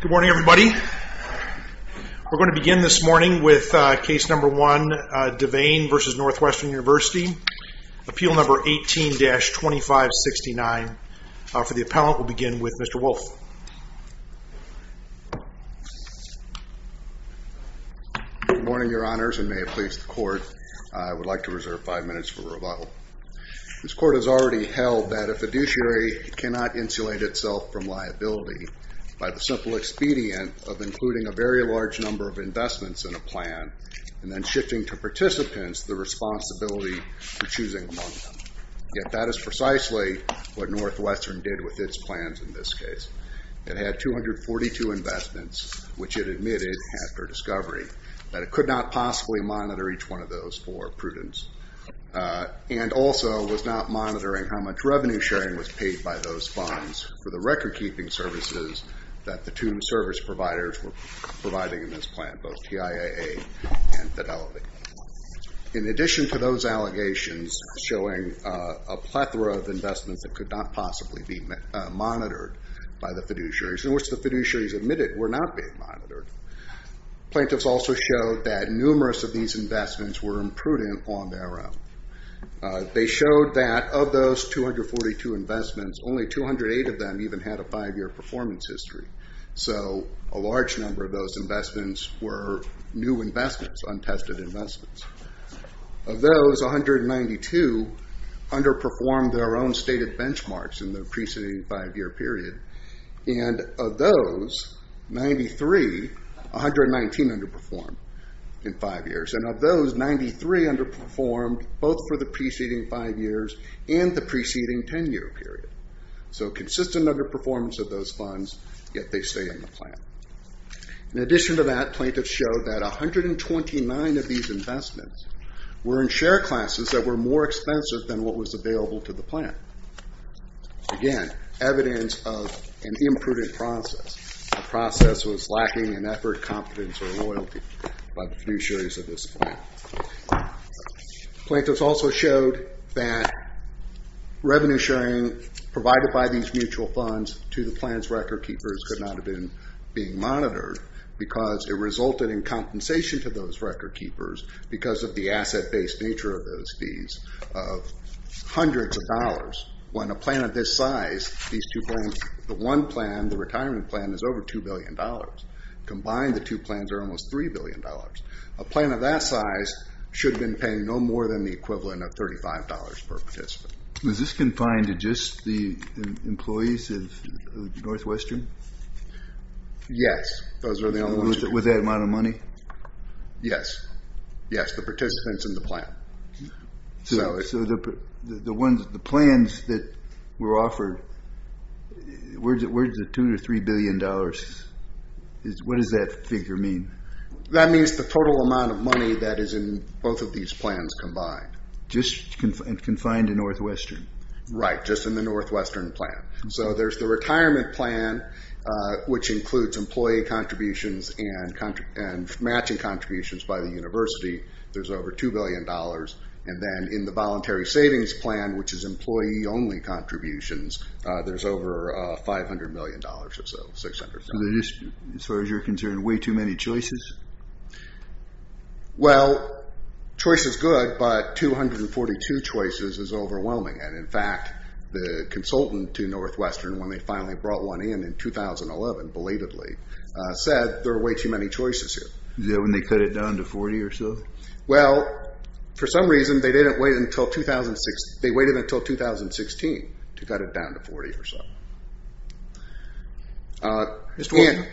Good morning everybody. We're going to begin this morning with case number 1, Divane v. Northwestern University. Appeal number 18-2569. For the appellant, we'll begin with Mr. Wolf. Good morning, your honors, and may it please the court, I would like to reserve five minutes for rebuttal. This court has already held that a fiduciary cannot insulate itself from a simple expedient of including a very large number of investments in a plan and then shifting to participants the responsibility for choosing among them. Yet that is precisely what Northwestern did with its plans in this case. It had 242 investments, which it admitted after discovery that it could not possibly monitor each one of those for prudence, and also was not monitoring how much revenue sharing was paid by those funds for the recordkeeping services that the two service providers were providing in this plan, both TIAA and Fidelity. In addition to those allegations showing a plethora of investments that could not possibly be monitored by the fiduciaries, in which the fiduciaries admitted were not being monitored, plaintiffs also showed that numerous of these investments were imprudent on their own. They showed that of those 242 investments, only 208 of them even had a five-year performance history, so a large number of those investments were new investments, untested investments. Of those, 192 underperformed their own stated benchmarks in the preceding five-year period, and of those, 93, 119 underperformed in five years, and of those, 93 underperformed both for the preceding five years and the preceding 10-year period. So consistent underperformance of those funds, yet they stay in the plan. In addition to that, plaintiffs showed that 129 of these investments were in share classes that were more expensive than what was available to the plan. Again, evidence of an imprudent process. The process was lacking in effort, competence, or loyalty by the fiduciaries of this plan. Plaintiffs also showed that revenue sharing provided by these mutual funds to the plan's record keepers could not have been monitored because it resulted in compensation to those record keepers because of the asset-based nature of those fees of hundreds of dollars. When a plan of this size, these two plans, the one plan, the retirement plan, is over $2 billion. Combined, the two plans are almost $3 billion. A plan of that size should have been paying no more than the equivalent of $35 per participant. Was this confined to just the employees of Northwestern? Yes, those are the only ones. With that amount of money? Yes. Yes, the participants and the plan. The plans that were offered, where's the $2 or $3 billion? What does that figure mean? That means the total amount of money that is in both of these plans combined. Just confined to Northwestern? Right, just in the Northwestern plan. There's the retirement plan, which includes employee contributions and matching contributions by the university. There's over $2 billion. Then in the voluntary savings plan, which is employee-only contributions, there's over $500 million or so. As far as you're concerned, way too many choices? Well, choice is good, but 242 choices is overwhelming. In fact, the consultant to Northwestern, when they finally brought one in in 2011, belatedly, said there are way too many choices here. Is that when they cut it down to 40 or so? Well, for some reason, they waited until 2016 to cut it down to 40 or so. You submitted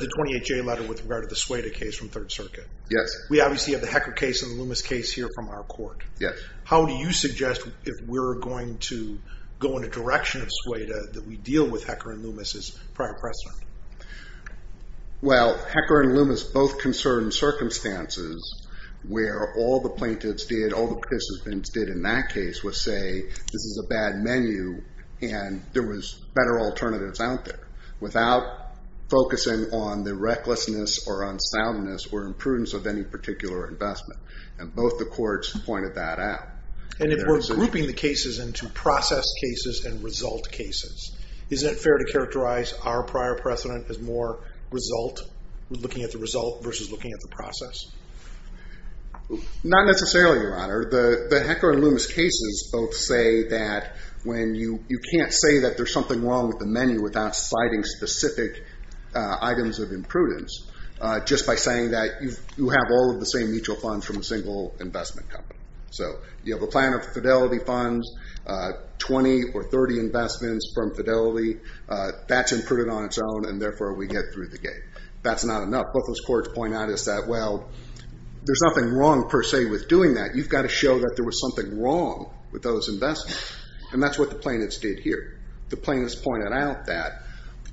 the 28J letter with regard to the Sueda case from Third Circuit. Yes. We obviously have the Hecker case and the Loomis case here from our court. Yes. How do you suggest, if we're going to go in a direction of Sueda, that we deal with Hecker and Loomis as prior precedent? Well, Hecker and Loomis both concern circumstances where all the plaintiffs did, all the participants did in that case, was say, this is a bad menu, and there was better alternatives out there, without focusing on the recklessness or unsoundness or imprudence of any particular investment. And both the courts pointed that out. And if we're grouping the cases into process cases and result cases, is it fair to characterize our prior precedent as more result, looking at the result, versus looking at the process? Not necessarily, Your Honor. The Hecker and Loomis cases both say that when you can't say that there's something wrong with the menu without citing specific items of imprudence, just by saying that you have all of the same mutual funds from a single investment company. So you have a plan of fidelity funds, 20 or 30 investments from fidelity, that's imprudent on its own, and therefore we get through the gate. That's not enough. Both those courts point out is that, well, there's nothing wrong, per se, with doing that. You've got to show that there was something wrong with those investments. And that's what the plaintiffs did here. The plaintiffs pointed out that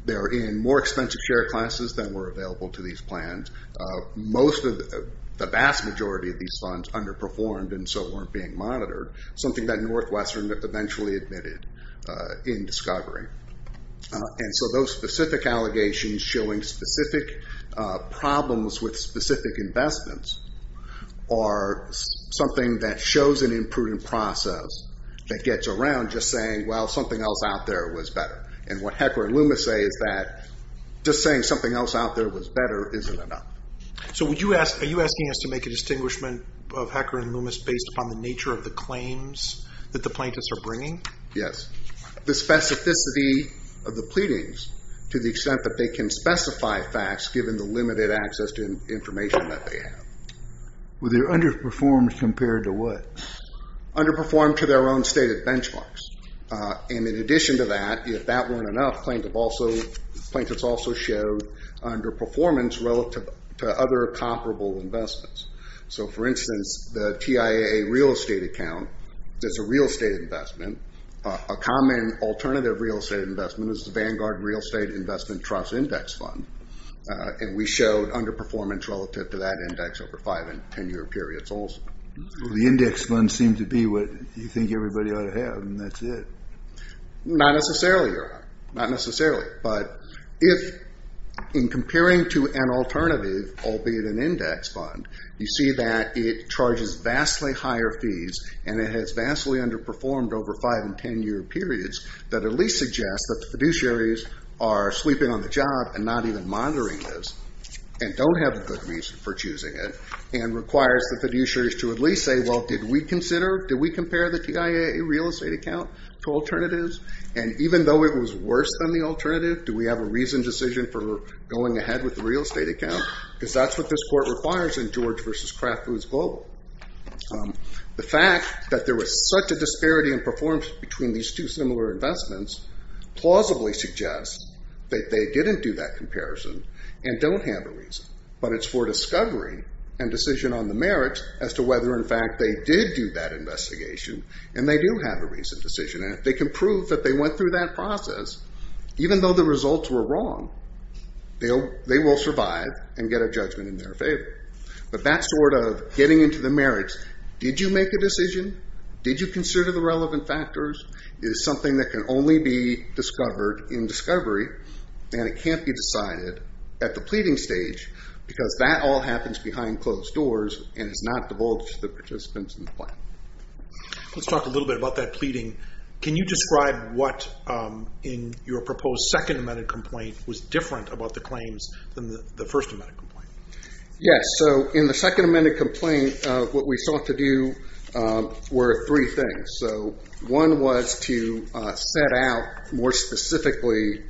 they're in more expensive share classes than were available to these plans. Most of the vast majority of these funds underperformed, and so weren't being monitored. Something that Northwestern eventually admitted in discovery. And so those specific allegations showing specific problems with specific investments are something that shows an imprudent process that gets around just saying, well, something else out there was better. And what Hecker and Loomis say is that, just saying something else out there was better isn't enough. So are you asking us to make a distinguishment of Hecker and Loomis based upon the nature of the claims that the plaintiffs are bringing? Yes. The specificity of the pleadings to the extent that they can specify facts given the limited access to information that they have. Were they underperformed compared to what? Underperformed to their own stated benchmarks. And in addition to that, if that weren't enough, plaintiffs also showed underperformance relative to other comparable investments. So for instance, the TIAA real estate account, that's a real estate investment. A common alternative real estate investment is the Vanguard Real Estate Investment Trust Index Fund. And we showed underperformance relative to that index over five and ten year periods also. The index fund seems to be what you think everybody ought to have, and that's it. Not necessarily, Your Honor. Not necessarily. But if, in comparing to an alternative, albeit an index fund, you see that it charges vastly higher fees and it has vastly underperformed over five and ten year periods, that at least suggests that the fiduciaries are sleeping on the job and not even monitoring this and don't have a good reason for choosing it and requires the fiduciaries to at least say, well, did we compare the TIAA real estate account to alternatives? And even though it was worse than the alternative, do we have a reasoned decision for going ahead with the real estate account? Because that's what this Court requires in George v. Kraft Foods Global. The fact that there was such a disparity in performance between these two similar investments plausibly suggests that they didn't do that comparison and don't have a reason. But it's for discovery and decision on the merits as to whether, in fact, they did do that investigation and they do have a reasoned decision. And if they can prove that they went through that process, even though the results were wrong, they will survive and get a judgment in their favor. But that sort of getting into the merits, did you make a decision? Did you consider the relevant factors? Is something that can only be discovered in discovery and it can't be decided at the pleading stage, because that all happens behind closed doors and is not divulged to the participants in the plan. Let's talk a little bit about that pleading. Can you describe what, in your proposed second amended complaint, was different about the claims than the first amended complaint? Yes, so in the second amended complaint, what we sought to do were three things. One was to set out, more specifically,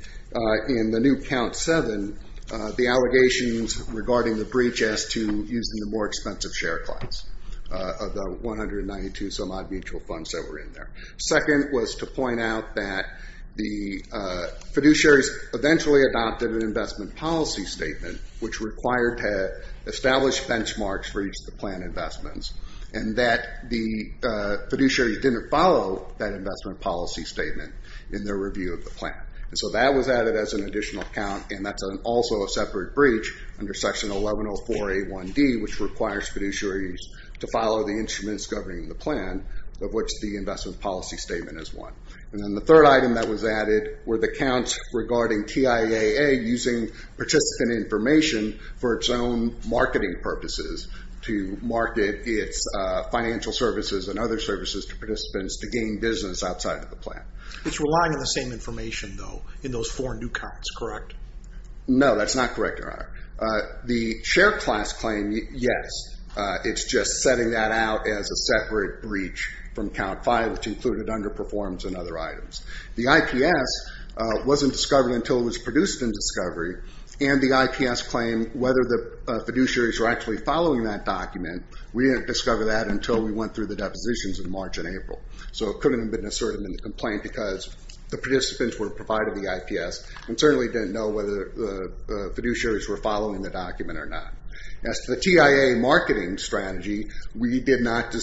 in the new count seven, the allegations regarding the breach as to using the more expensive share class of the 192 some odd mutual funds that were in there. Second was to point out that the fiduciaries eventually adopted an investment policy statement which required to establish benchmarks for each of the plan investments and that the fiduciaries didn't follow that investment policy statement in their review of the plan. So that was added as an additional count and that's also a separate breach under section 1104A1D which requires fiduciaries to follow the instruments governing the plan of which the investment policy statement is one. And then the third item that was added were the counts regarding TIAA using participant information for its own marketing purposes to market its financial services and other services to participants to gain business outside of the plan. It's relying on the same information though in those four new counts, correct? No, that's not correct, Your Honor. The share class claim, yes, it's just setting that out as a separate breach from count five which included underperformance and other items. The IPS wasn't discovered until it was produced in discovery and the IPS claim whether the fiduciaries were actually following that document we didn't discover that until we went through the depositions in March and April. So it couldn't have been asserted in the complaint because the participants were provided the IPS and certainly didn't know whether the fiduciaries were following the document or not. As to the TIAA marketing strategy we did not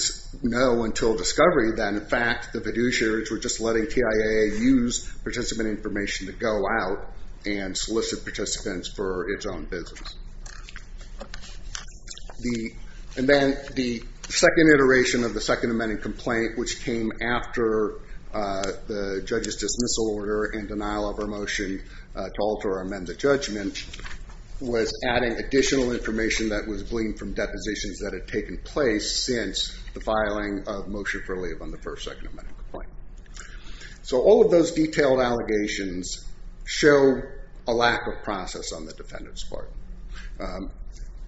know until discovery that in fact the fiduciaries were just letting TIAA use participant information to go out and solicit participants for its own business. And then the second iteration of the second amending complaint which came after the judge's dismissal order and denial of our motion to alter or amend the judgment was adding additional information that was gleaned from depositions that had taken place since the filing of motion for leave on the first second amending complaint. So all of those detailed allegations show a lack of process on the defendant's part.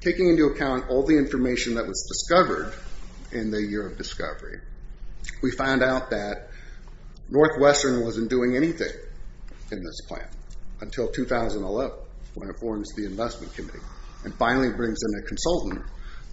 Taking into account all the information that was discovered in the year of discovery, we found out that Northwestern wasn't doing anything in this plan until 2011 when it forms the investment committee and finally brings in a consultant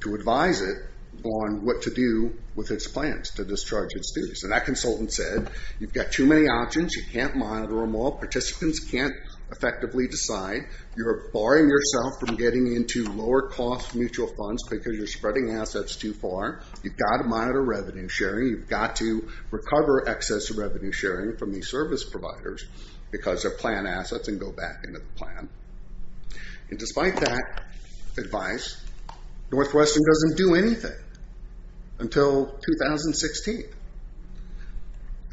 to advise it on what to do with its plans to discharge its duties. And that consultant said you've got too many options, you can't monitor them all, participants can't effectively decide, you're barring yourself from getting into lower cost mutual funds because you're spreading assets too far, you've got to monitor revenue sharing, you've got to recover excess revenue sharing from these service providers because they're plan assets and go back into the plan. And despite that advice, Northwestern doesn't do anything until 2016.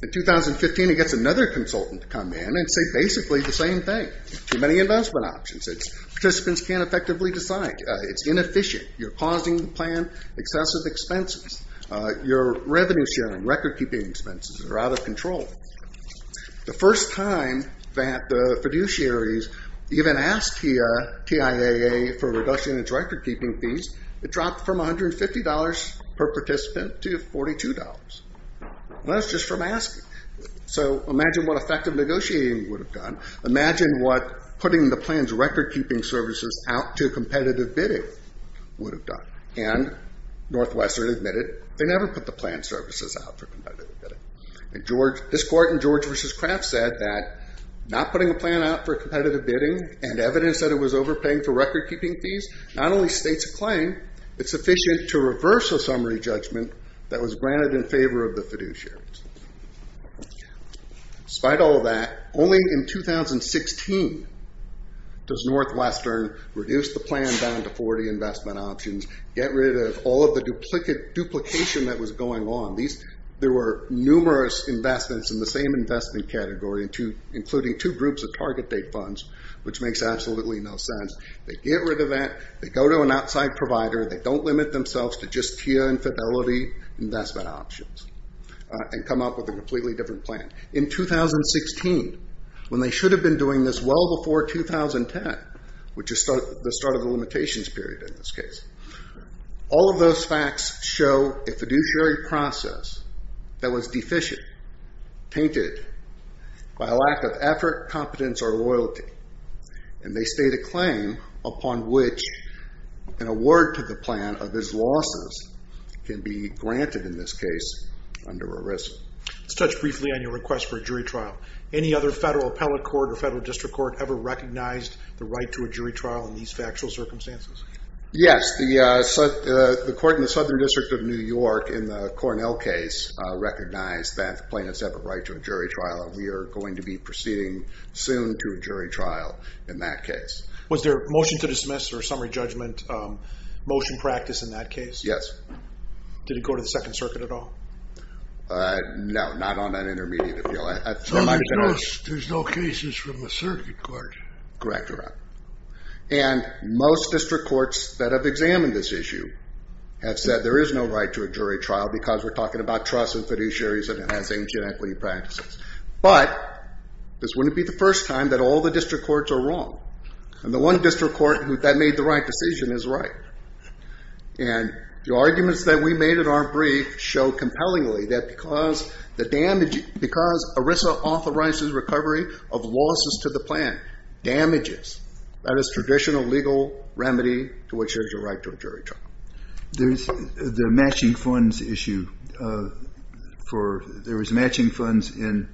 In 2015 it gets another consultant to come in and say basically the same thing. Too many investment options, participants can't effectively decide. It's inefficient. You're causing the plan excessive expenses. Your revenue sharing, recordkeeping expenses are out of control. The first time that the fiduciaries even asked TIAA for a reduction in its recordkeeping fees, it dropped from $150 per participant to $42. That's just from asking. So imagine what effective negotiating would have done. Imagine what putting the plan's recordkeeping services out to competitive bidding would have done. And Northwestern admitted they never put the plan services out for competitive bidding. This court in George v. Kraft said that not putting a plan out for competitive bidding and evidence that it was overpaying for recordkeeping fees not only states a claim, it's sufficient to reverse a summary judgment that was granted in favor of the fiduciaries. Despite all that, only in 2016 does Northwestern reduce the plan down to 40 investment options, get rid of all of the duplication that was going on. There were numerous investments in the same investment category including two groups of target date funds, which makes absolutely no sense. They get rid of that, they go to an outside provider, they don't limit themselves to just TIAA and Fidelity investment options and come up with a completely different plan. In 2016 when they should have been doing this well before 2010, which is the start of the limitations period in this case, all of those facts show a fiduciary process that was deficient tainted by a lack of effort, competence, or loyalty. And they state a claim upon which an award to the plan of its losses can be granted in this case under a risk. Let's touch briefly on your request for a jury trial. Any other federal appellate court or federal district court ever recognized the right to a jury trial in these factual circumstances? Yes. The court in the Southern District of New York in the Cornell case recognized that plaintiffs have a right to a jury trial and we are going to be proceeding soon to a jury trial in that case. Was there a motion to dismiss or a summary judgment motion practice in that case? Yes. Did it go to the second circuit at all? No, not on an intermediate appeal. There's no cases from the circuit court. Correct, correct. And most district courts that have examined this issue have said there is no right to a jury trial because we're talking about trust and fiduciaries and enhancing equity practices. But this wouldn't be the first time that all the district courts are wrong. And the one district court that made the right decision is right. And the arguments that we made in our brief show compellingly that because ARISA authorizes recovery of losses to the plan, damages, that is traditional legal remedy to which there's a right to a jury trial. There's the matching funds issue for, there was matching funds in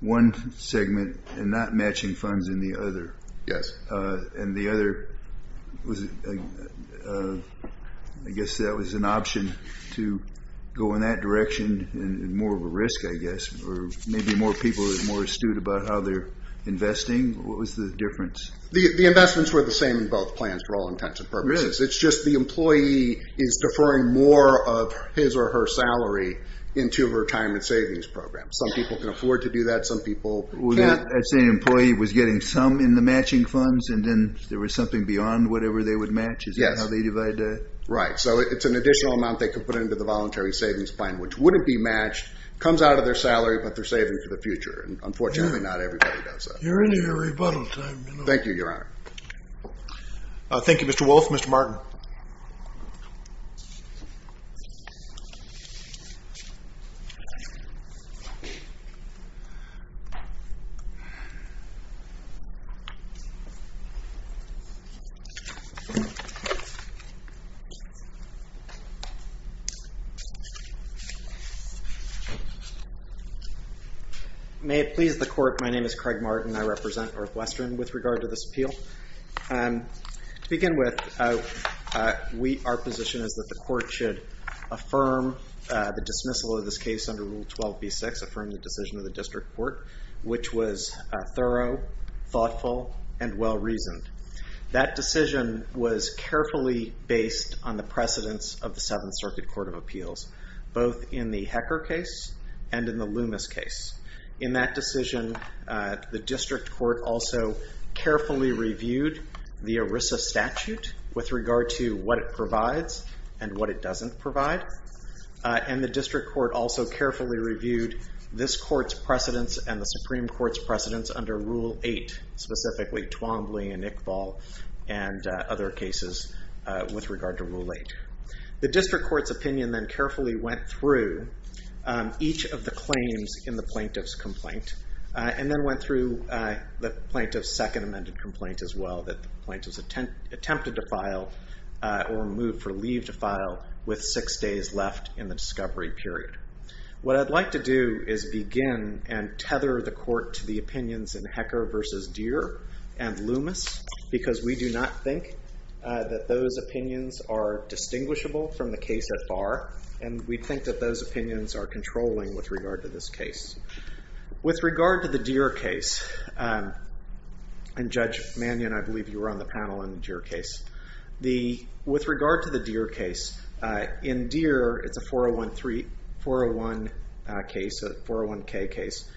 one segment and not matching funds in the other. Yes. And the other was I guess that was an option to go in that direction and more of a risk I guess or maybe more people are more astute about how they're investing. What was the difference? The investments were the same in both plans for all intents and purposes. It's just the employee is deferring more of his or her salary into her retirement savings program. Some people can afford to do that. Some people can't. I'd say an employee was getting some in the beyond whatever they would match. Right. So it's an additional amount they could put into the voluntary savings plan which wouldn't be matched, comes out of their salary, but they're saving for the future. Unfortunately not everybody does that. You're into your rebuttal time. Thank you, Your Honor. Thank you, Mr. Wolf. Mr. Martin. May it please the Court. My name is Craig Martin. I represent Northwestern with regard to this appeal. To begin with our position is that the Court should affirm the dismissal of this case under Rule 12b-6, affirm the decision of the District Court, which was thorough, thoughtful, and well-reasoned. That decision was carefully based on the precedence of the Seventh Circuit Court of Appeals. Both in the Hecker case and in the Loomis case. In that decision, the District Court also carefully reviewed the ERISA statute with regard to what it provides and what it doesn't provide. And the District Court also carefully reviewed this Court's precedence and the Supreme Court's under Rule 8, specifically Twombly and Iqbal and other cases with regard to Rule 8. The District Court's opinion then carefully went through each of the claims in the Plaintiff's complaint and then went through the Plaintiff's second amended complaint as well that the Plaintiff's attempted to file or moved for leave to file with six days left in the discovery period. What I'd like to do is begin and tether the Court to the opinions in Hecker v. Deere and Loomis because we do not think that those opinions are distinguishable from the case at bar and we think that those opinions are controlling with regard to this case. With regard to the Deere case and Judge Mannion, I believe you were on the panel on the Deere case. With regard to the Deere case in Deere, it's a 401k case.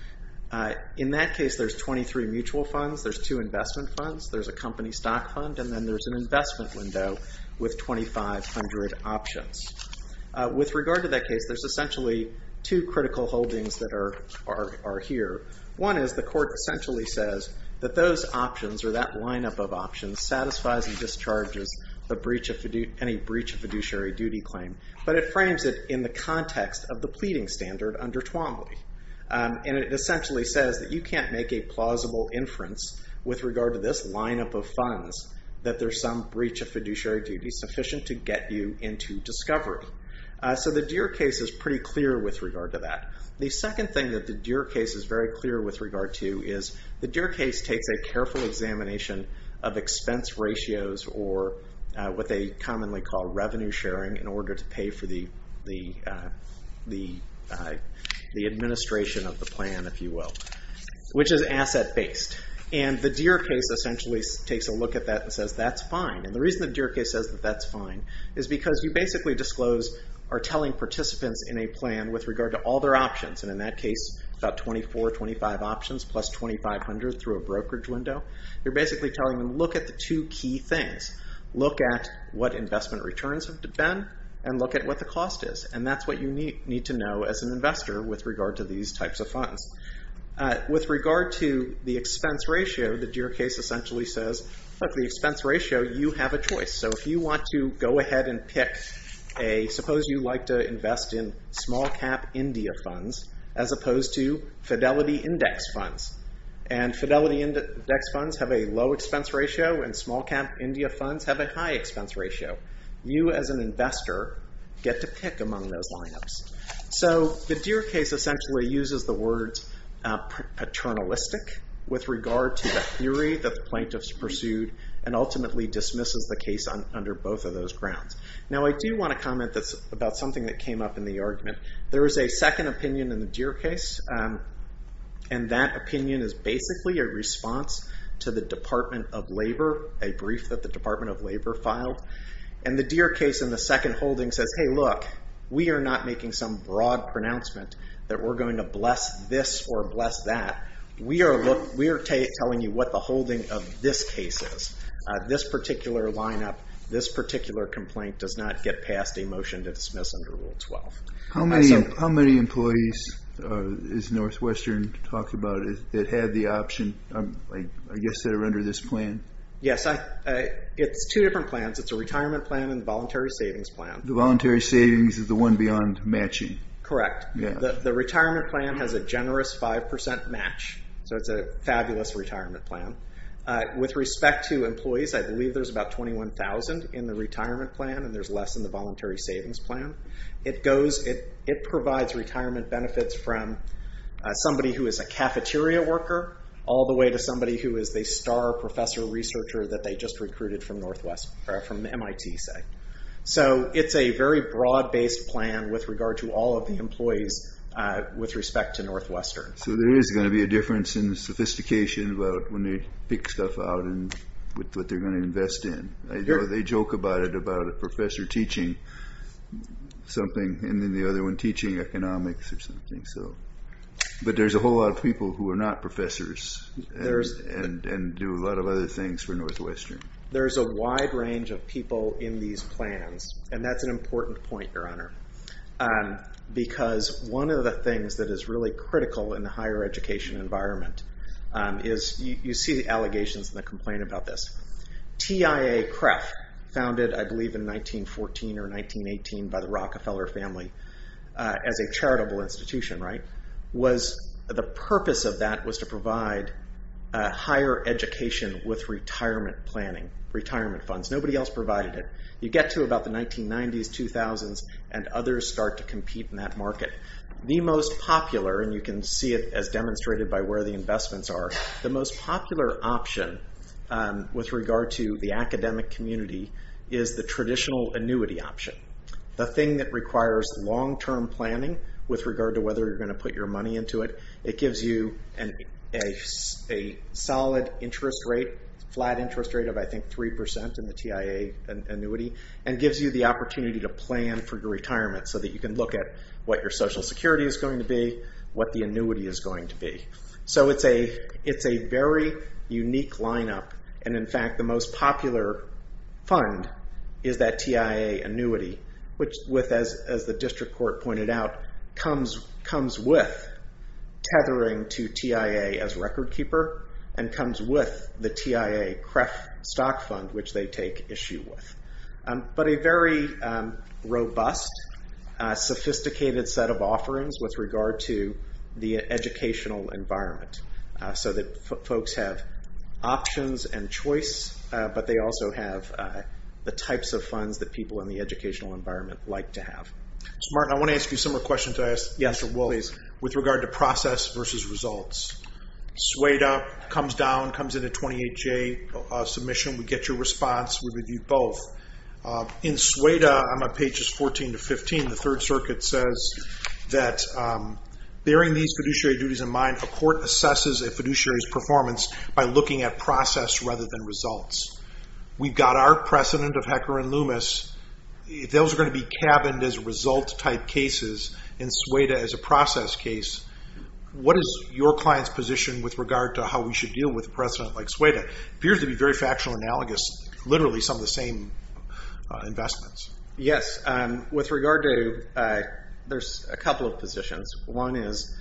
In that case there's 23 mutual funds, there's two investment funds, there's a company stock fund and then there's an investment window with 2,500 options. With regard to that case there's essentially two critical holdings that are here. One is the Court essentially says that those options or that lineup of options satisfies and discharges any breach of fiduciary duty claim but it frames it in the context of the pleading standard under Twombly. It essentially says that you can't make a plausible inference with regard to this lineup of funds that there's some breach of fiduciary duty sufficient to get you into discovery. The Deere case is pretty clear with regard to that. The second thing that the Deere case is very clear with regard to is the Deere case takes a careful examination of expense ratios or what they commonly call revenue sharing in order to pay for the administration of the plan if you will, which is asset based. The Deere case essentially takes a look at that and says that's fine. The reason the Deere case says that that's fine is because you basically disclose or tell participants in a plan with regard to all their options and in that case about 24, 25 options plus 2,500 through a brokerage window. You're basically telling them look at the two key things. Look at what investment returns have been and look at what the cost is and that's what you need to know as an investor with regard to these types of funds. With regard to the expense ratio, the Deere case essentially says, look the expense ratio you have a choice. So if you want to go ahead and pick a suppose you like to invest in small cap India funds as opposed to Fidelity Index funds and Fidelity Index funds have a low expense ratio and small cap India funds have a high expense ratio. You as an investor are in those lineups. The Deere case essentially uses the words paternalistic with regard to the theory that plaintiffs pursued and ultimately dismisses the case under both of those grounds. Now I do want to comment about something that came up in the argument. There is a second opinion in the Deere case and that opinion is basically a response to the Department of Labor a brief that the Department of Labor filed and the Deere case in the second holding says, hey look, we are not making some broad pronouncement that we're going to bless this or bless that. We are telling you what the holding of this case is. This particular lineup, this particular complaint does not get past a motion to dismiss under Rule 12. How many employees is Northwestern talking about that had the option I guess that are under this plan? It's two different plans. It's a voluntary savings plan. The voluntary savings is the one beyond matching. Correct. The retirement plan has a generous 5% match. It's a fabulous retirement plan. With respect to employees, I believe there's about 21,000 in the retirement plan and there's less in the voluntary savings plan. It provides retirement benefits from somebody who is a cafeteria worker all the way to somebody who is the star professor researcher that they just recruited from MIT, say. It's a very broad-based plan with regard to all of the employees with respect to Northwestern. There is going to be a difference in sophistication about when they pick stuff out and what they're going to invest in. They joke about it, about a professor teaching something and then the other one teaching economics or something. There's a whole lot of people who are not professors and do a lot of other things for Northwestern. There's a wide range of people in these plans and that's an important point, Your Honor. Because one of the things that is really critical in the higher education environment is you see the allegations and the complaint about this. TIA-CREF founded, I believe, in 1914 or 1918 by the Rockefeller family as a charitable institution, right? The purpose of that was to provide higher education with retirement planning, retirement funds. Nobody else provided it. You get to about the 1990s, 2000s and others start to compete in that market. The most popular and you can see it as demonstrated by where the investments are, the most popular option with regard to the academic community is the traditional annuity option. The thing that requires long-term planning with regard to whether you're going to put your money into it, it gives you a solid interest rate, flat interest rate of I think 3% in the TIA annuity and gives you the opportunity to plan for your retirement so that you can look at what your social security is going to be, what the annuity is going to be. It's a very unique lineup and in fact the most popular fund is that TIA annuity which, as the district court pointed out, comes with tethering to TIA as record keeper and comes with the TIA CREF stock fund which they take issue with. But a very robust sophisticated set of offerings with regard to the educational environment so that folks have options and choice but they also have the types of funds that people in the educational environment like to have. I want to ask you some more questions with regard to process versus results. SUEDA comes down, comes in a 28J submission. We get your response, we review both. In SUEDA, on my pages 14 to 15, the 3rd Circuit says that bearing these fiduciary duties in mind, a court assesses a fiduciary's performance by looking at process rather than results. We've got our precedent of Hecker and Loomis those are going to be cabined as result type cases in SUEDA as a process case what is your client's position with regard to how we should deal with a precedent like SUEDA? It appears to be very factional analogous literally some of the same investments. Yes, with regard to there's a couple of positions. One is,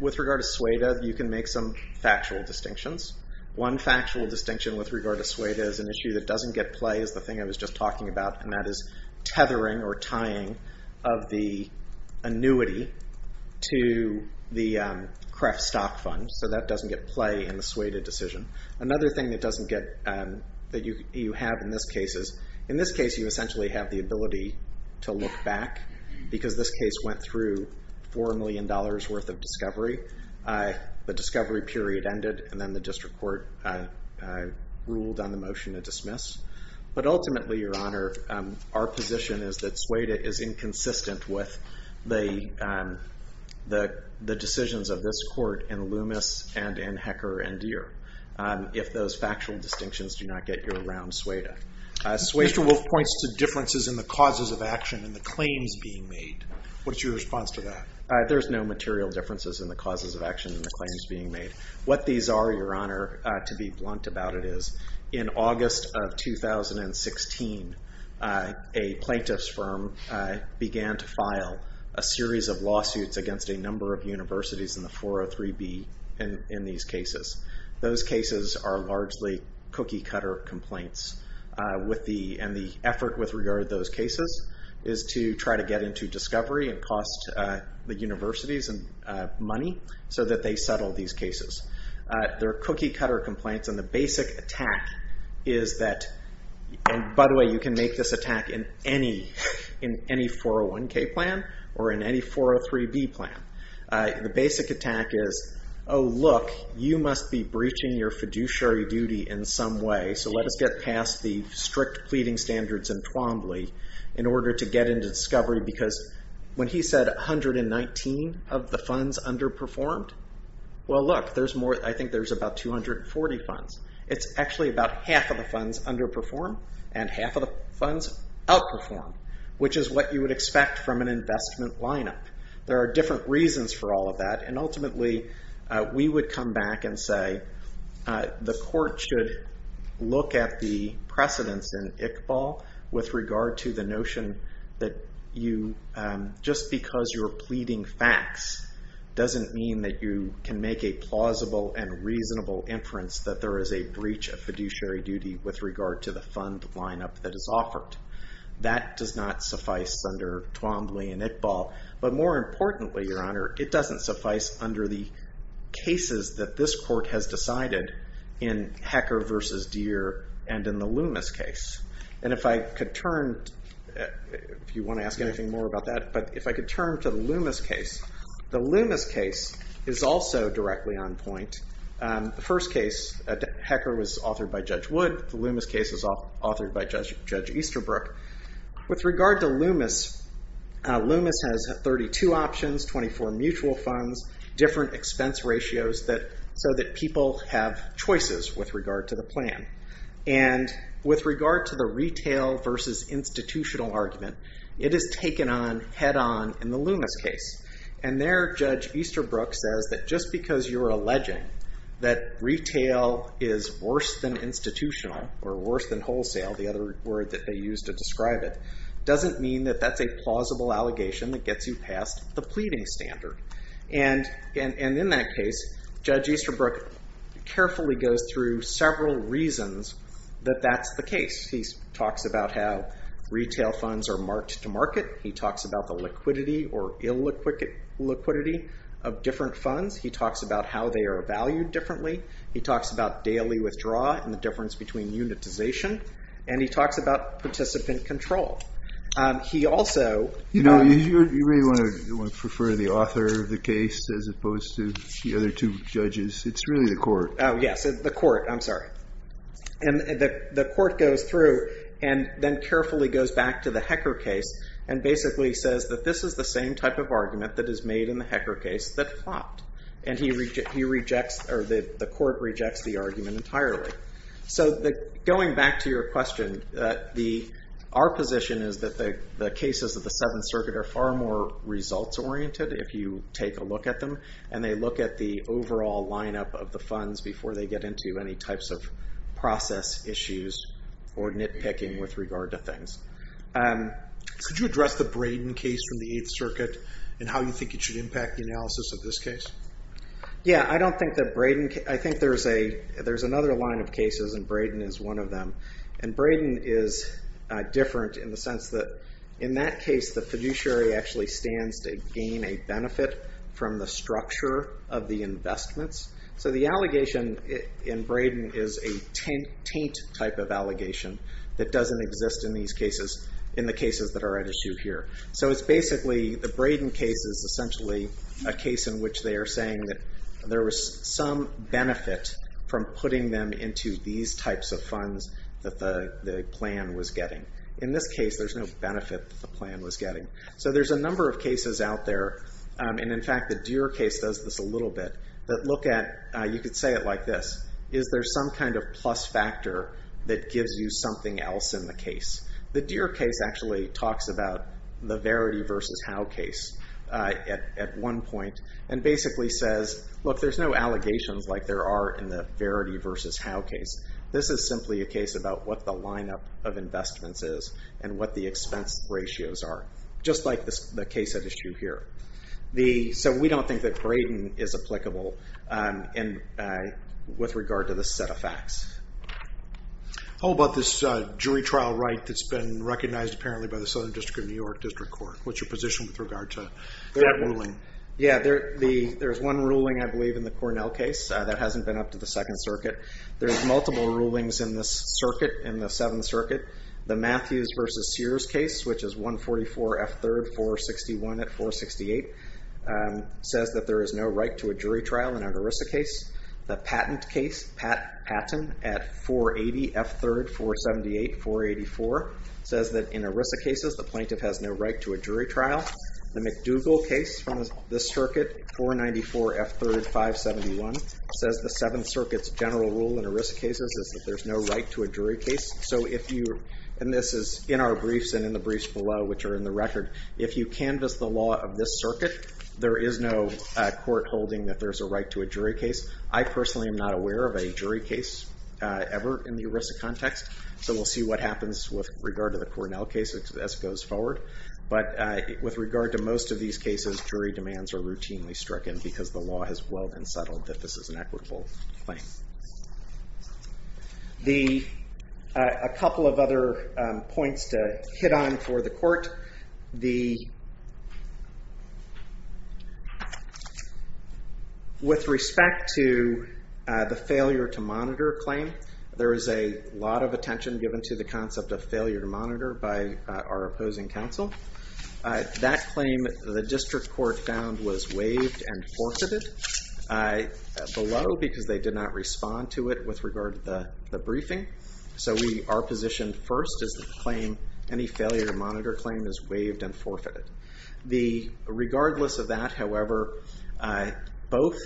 with regard to SUEDA, you can make some factual distinctions. One factual distinction with regard to SUEDA is an issue that doesn't get play is the thing I was just talking about and that is tethering or tying of the annuity to the CREF stock fund so that doesn't get play in the SUEDA decision. Another thing that doesn't get that you have in this case is in this case you essentially have the ability to look back because this case went through the discovery period ended and then the district court ruled on the motion to dismiss but ultimately your honor our position is that SUEDA is inconsistent with the decisions of this court in Loomis and in Hecker and Deere if those factual distinctions do not get you around SUEDA. Swayster-Wolf points to differences in the causes of action and the claims being made what's your response to that? There's no material differences in the causes of action and the claims being made. What these are your honor, to be blunt about it is in August of 2016 a plaintiff's firm began to file a series of lawsuits against a number of universities in the 403B in these cases. Those cases are largely cookie cutter complaints and the effort with regard to those cases is to try to get into discovery and cost the universities money so that they settle these cases. They're cookie cutter complaints and the basic attack is that, and by the way you can make this attack in any 401K plan or in any 403B plan the basic attack is oh look, you must be breaching your fiduciary duty in some way so let us get past the strict pleading standards in Twombly in order to get into discovery because when he said 119 of the funds underperformed well look, I think there's about 240 funds it's actually about half of the funds underperformed and half of the funds outperformed, which is what you would expect from an investment lineup there are different reasons for all of that and ultimately we would come back and say the court should Iqbal with regard to the notion that you just because you're pleading facts doesn't mean that you can make a plausible and reasonable inference that there is a breach of fiduciary duty with regard to the fund lineup that is offered that does not suffice under Twombly and Iqbal but more importantly your honor, it doesn't suffice under the cases that this court has decided in Hecker vs. Deere and in the Loomis case and if I could turn if you want to ask anything more about that but if I could turn to the Loomis case the Loomis case is also directly on point the first case at Hecker was authored by Judge Wood, the Loomis case was authored by Judge Easterbrook with regard to Loomis Loomis has 32 options, 24 mutual funds different expense ratios so that people have choices with regard to the plan and with regard to the retail vs. institutional argument, it is taken on head on in the Loomis case and there Judge Easterbrook says that just because you're alleging that retail is worse than institutional or worse than wholesale, the other word that they use to describe it, doesn't mean that that's a plausible allegation that gets you past the pleading standard and in that case Judge Easterbrook carefully goes through several reasons that that's the case he talks about how retail funds are marked to market he talks about the liquidity or illiquidity of different funds, he talks about how they are valued differently, he talks about daily withdraw and the difference between unitization and he talks about participant control he also you really want to refer to the author of the case as opposed to the other two judges, it's really the court oh yes, the court, I'm sorry and the court goes through and then carefully goes back to the Hecker case and basically says that this is the same type of argument that is made in the Hecker case that flopped and he rejects or the court rejects the argument entirely, so going back to your question our position is that the cases of the 7th circuit are far more results oriented if you take a look at them and they look at the overall line up of the funds before they get into any types of process issues or nitpicking with regard to things Could you address the Brayden case from the 8th circuit and how you think it should impact the analysis of this case? Yeah, I don't think that Brayden I think there's another line of cases and Brayden is one of them and Brayden is different in the sense that in that case the fiduciary actually stands to gain a benefit from the structure of the investments So the allegation in Brayden is a taint type of allegation that doesn't exist in these cases, in the cases that are at issue here. So it's basically the Brayden case is essentially a case in which they are saying that there was some benefit from putting them into these types of funds that the plan was getting. In this case there's no benefit that the plan was getting. So there's a number of cases out there and in fact the Deere case does this a little bit, that look at you could say it like this, is there some kind of plus factor that gives you something else in the case? The Deere case actually talks about the Verity vs. How case at one point and basically says look there's no allegations like there are in the Verity vs. How case this is simply a case about what the lineup of investments is and what the expense ratios are just like the case at issue here So we don't think that Brayden is applicable with regard to this set of facts. How about this jury trial right that's been recognized apparently by the Southern District of New York District Court? What's your position with regard to that ruling? There's one ruling I believe in the Cornell case that hasn't been up to the Second Circuit. There's multiple rulings in this circuit, in the Seventh Circuit. The Matthews vs. Sears case which is 144 F3 461 at 468 says that there is no right to a jury trial in an ERISA case. The Patton case Patton at 480 F3 478 484 says that in ERISA cases the plaintiff has no right to a jury trial The McDougall case from this circuit 494 F3 571 says the Seventh Circuit's general rule in ERISA cases is that there's no right to a jury case so if you, and this is in our record, if you canvass the law of this circuit, there is no court holding that there's a right to a jury case. I personally am not aware of a jury case ever in the ERISA context, so we'll see what happens with regard to the Cornell case as it goes forward, but with regard to most of these cases, jury demands are routinely stricken because the law has well been settled that this is an equitable claim. A couple of other points to put on for the court With respect to the failure to monitor claim, there is a lot of attention given to the concept of failure to monitor by our opposing counsel. That claim the district court found was waived and forfeited below because they did not respond to it with regard to the briefing, so we are positioned first as the claim, any failure to monitor claim is waived and forfeited. Regardless of that, however, both,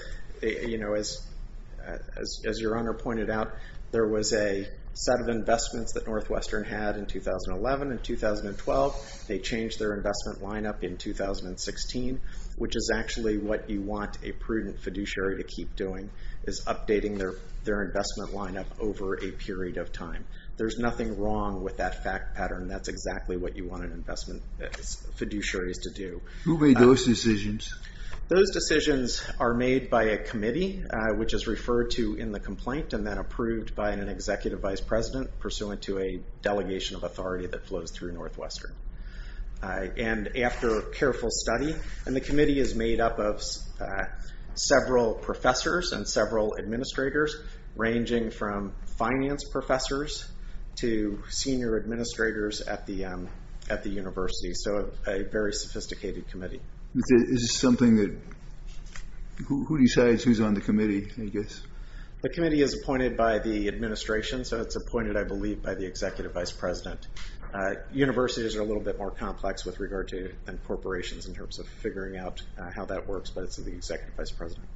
as your honor pointed out, there was a set of investments that Northwestern had in 2011 and 2012, they changed their investment lineup in 2016, which is actually what you want a prudent fiduciary to keep doing, is updating their investment lineup over a period of time. There's nothing wrong with that fact pattern, that's exactly what you want an investment fiduciary to do. Who made those decisions? Those decisions are made by a committee, which is referred to in the complaint and then approved by an executive vice president, pursuant to a delegation of authority that flows through Northwestern. And after careful study, and the committee is made up of several professors and several administrators, ranging from finance professors to senior administrators at the university, so a very sophisticated committee. Who decides who's on the committee, I guess? The committee is appointed by the administration, so it's appointed, I believe, by the executive vice president. Universities are a little bit more complex with regard to corporations in terms of figuring out how that works, but it's the executive vice president.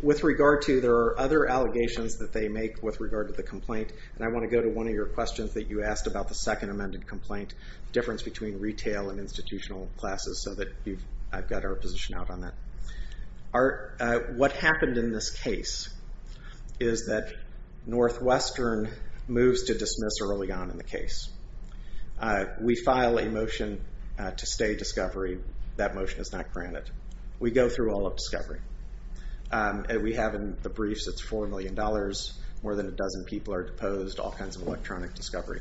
With regard to, there are other allegations that they make with regard to the complaint, and I want to go to one of your questions that you asked about the second amended complaint, difference between retail and institutional classes, so that I've got our position out on that. What happened in this case is that Northwestern moves to dismiss early on in the case. We file a motion to stay discovery, that motion is not granted. We go through all of discovery. We have in the briefs, it's $4 million, more than a dozen people are deposed, all kinds of electronic discovery.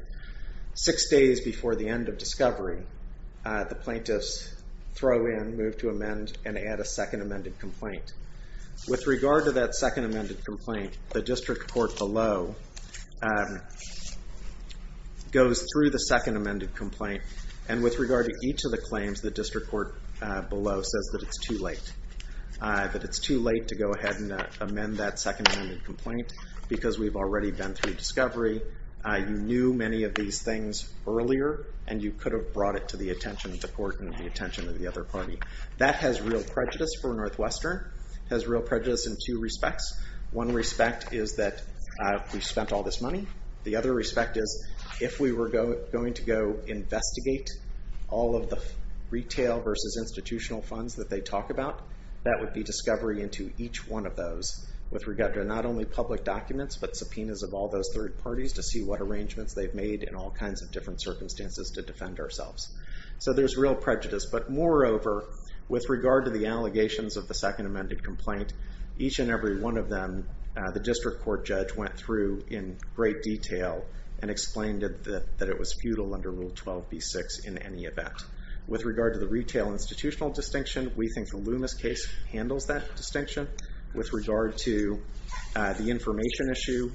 Six days before the end of discovery, the plaintiffs throw in, move to amend, and add a second amended complaint. With regard to that second amended complaint, the district court below goes through the second amended complaint, and with regard to each of the claims, the district court below says that it's too late. That it's too late to go ahead and amend that second amended complaint, because we've already been through discovery. You knew many of these things earlier, and you could have brought it to the attention of the court and the attention of the other party. That has real prejudice for Northwestern, has real prejudice in two respects. One respect is that we spent all this money. The other respect is, if we were going to go investigate all of the retail versus institutional funds that they talk about, that would be discovery into each one of those, with regard to not only public documents, but subpoenas of all those third parties to see what arrangements they've made in all kinds of different circumstances to defend ourselves. So there's real prejudice, but moreover, with regard to the allegations of the second amended complaint, each and every one of them, the district court judge went through in great detail and explained that it was futile under Rule 12b-6 in any event. With regard to the retail institutional distinction, we think the Loomis case handles that distinction. With regard to the information issue,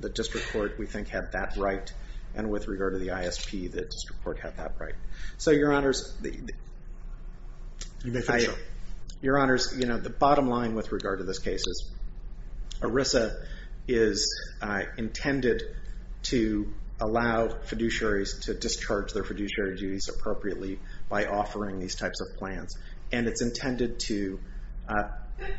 the district court, we think, had that right. And with regard to the ISP, the district court had that right. So, Your Honors, Your Honors, the bottom line with regard to this case is, ERISA is intended to allow fiduciaries to discharge their fiduciary duties appropriately by offering these types of plans. And it's intended to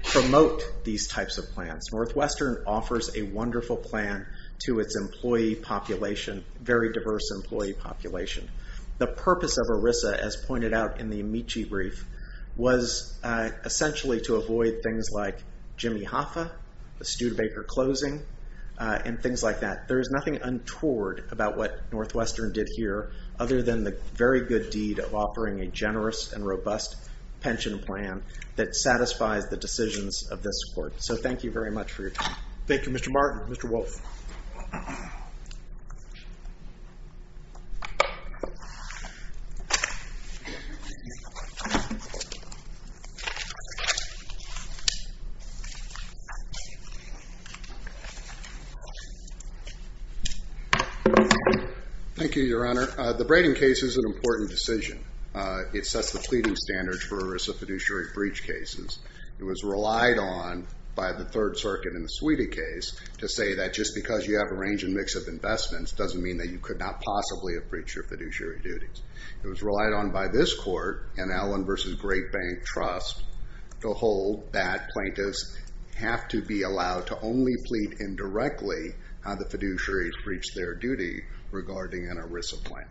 promote these types of plans. Northwestern offers a wonderful plan to its employee population, very diverse employee population. The purpose of ERISA, as pointed out in the Amici brief, was essentially to avoid things like Jimmy Hoffa, the Studebaker closing, and things like that. There is nothing untoward about what Northwestern did here, other than the very good deed of offering a generous and robust pension plan that satisfies the decisions of this court. So, thank you very much for your time. Thank you, Mr. Martin. Mr. Wolfe. Thank you. Thank you, Your Honor. The Braden case is an important decision. It sets the pleading standards for ERISA fiduciary breach cases. It was relied on by the Third Circuit in the Sweedy case to say that just because you have a range and mix of investments doesn't mean that you could not possibly have breached your fiduciary duties. It was relied on by this court and Allen versus Great Bank Trust to hold that plaintiffs have to be allowed to only plead indirectly on the fiduciary breach their duty regarding an ERISA plan.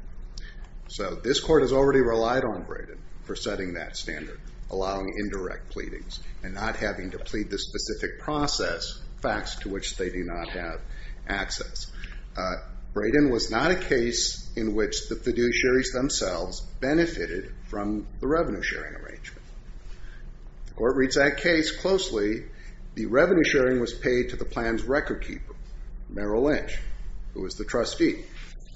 So, this court has already relied on Braden for setting that standard, allowing indirect pleadings, and not having to plead the specific process facts to which they do not have access. Braden was not a case in which the fiduciaries themselves benefited from the revenue sharing arrangement. The court reads that case closely. The revenue sharing was paid to the plan's record keeper, Merrill Lynch, who was the trustee.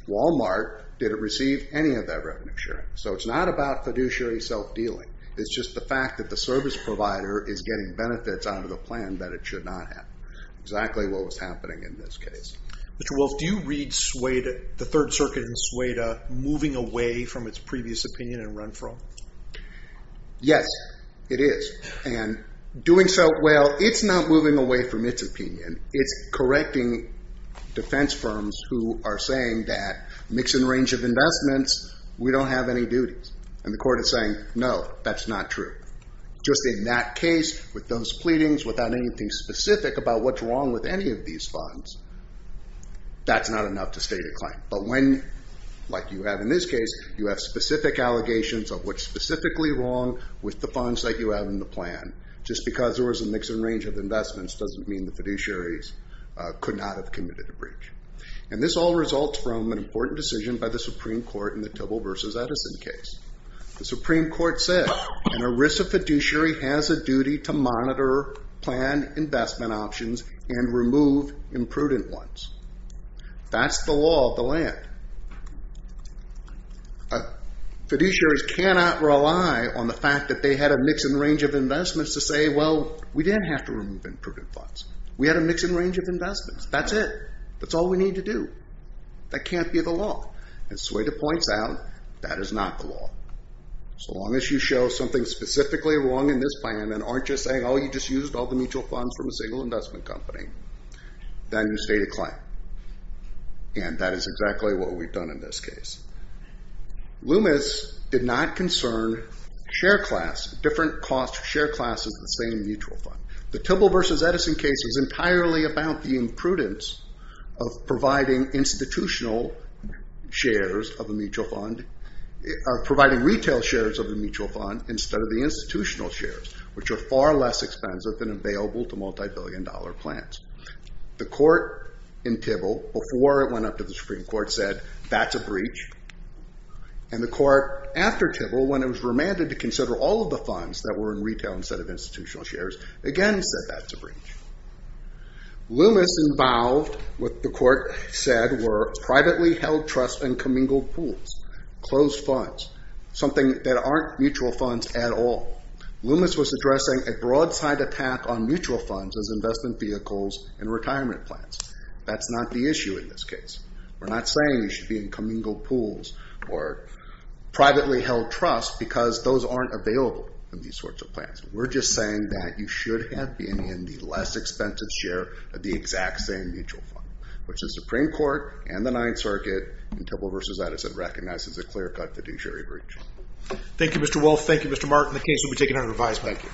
Walmart didn't receive any of that revenue sharing. So, it's not about fiduciary self-dealing. It's just the fact that the service provider is getting benefits out of the plan that it should not have. Exactly what was happening in this case. Mr. Wolf, do you read the Third Circuit in Sweedy moving away from its previous opinion and run for them? Yes, it is. Doing so well, it's not moving away from its opinion. It's correcting defense firms who are saying that mix and range of investments, we don't have any duties. And the court is saying no, that's not true. Just in that case, with those pleadings, without anything specific about what's wrong with any of these funds, that's not enough to state a claim. But when, like you have in this case, you have specific allegations of what's specifically wrong with the funds that you have in the plan. Just because there was a mix and range of investments doesn't mean the fiduciaries could not have committed a breach. And this all results from an important decision by the Supreme Court in the Tibble vs. Edison case. The Supreme Court said, an ERISA fiduciary has a duty to monitor planned investment options and remove imprudent ones. That's the law of the world. Fiduciaries cannot rely on the fact that they had a mix and range of investments to say well, we didn't have to remove imprudent funds. We had a mix and range of investments. That's it. That's all we need to do. That can't be the law. And Sueda points out, that is not the law. So long as you show something specifically wrong in this plan and aren't just saying, oh you just used all the mutual funds from a single investment company, then you state a claim. And that is exactly what we've done in this case. Loomis did not concern share class, different cost share classes of the same mutual fund. The Tibble vs. Edison case was entirely about the imprudence of providing institutional shares of the mutual fund, providing retail shares of the mutual fund instead of the institutional shares, which are far less expensive than available to multi-billion dollar plans. The court in Tibble, before it went up to the Supreme Court, said that's a breach. And the court after Tibble, when it was remanded to consider all of the funds that were in retail instead of institutional shares, again said that's a breach. Loomis involved what the court said were privately held trust and commingled pools, closed funds, something that aren't mutual funds at all. Loomis was addressing a broadside attack on mutual funds as investment vehicles in this case. We're not saying you should be in commingled pools or privately held trust because those aren't available in these sorts of plans. We're just saying that you should have been in the less expensive share of the exact same mutual fund, which the Supreme Court and the Ninth Circuit in Tibble vs. Edison recognized as a clear-cut fiduciary breach. Thank you, Mr. Wolf. Thank you, Mr. Martin. The case will be taken under revised. Thank you.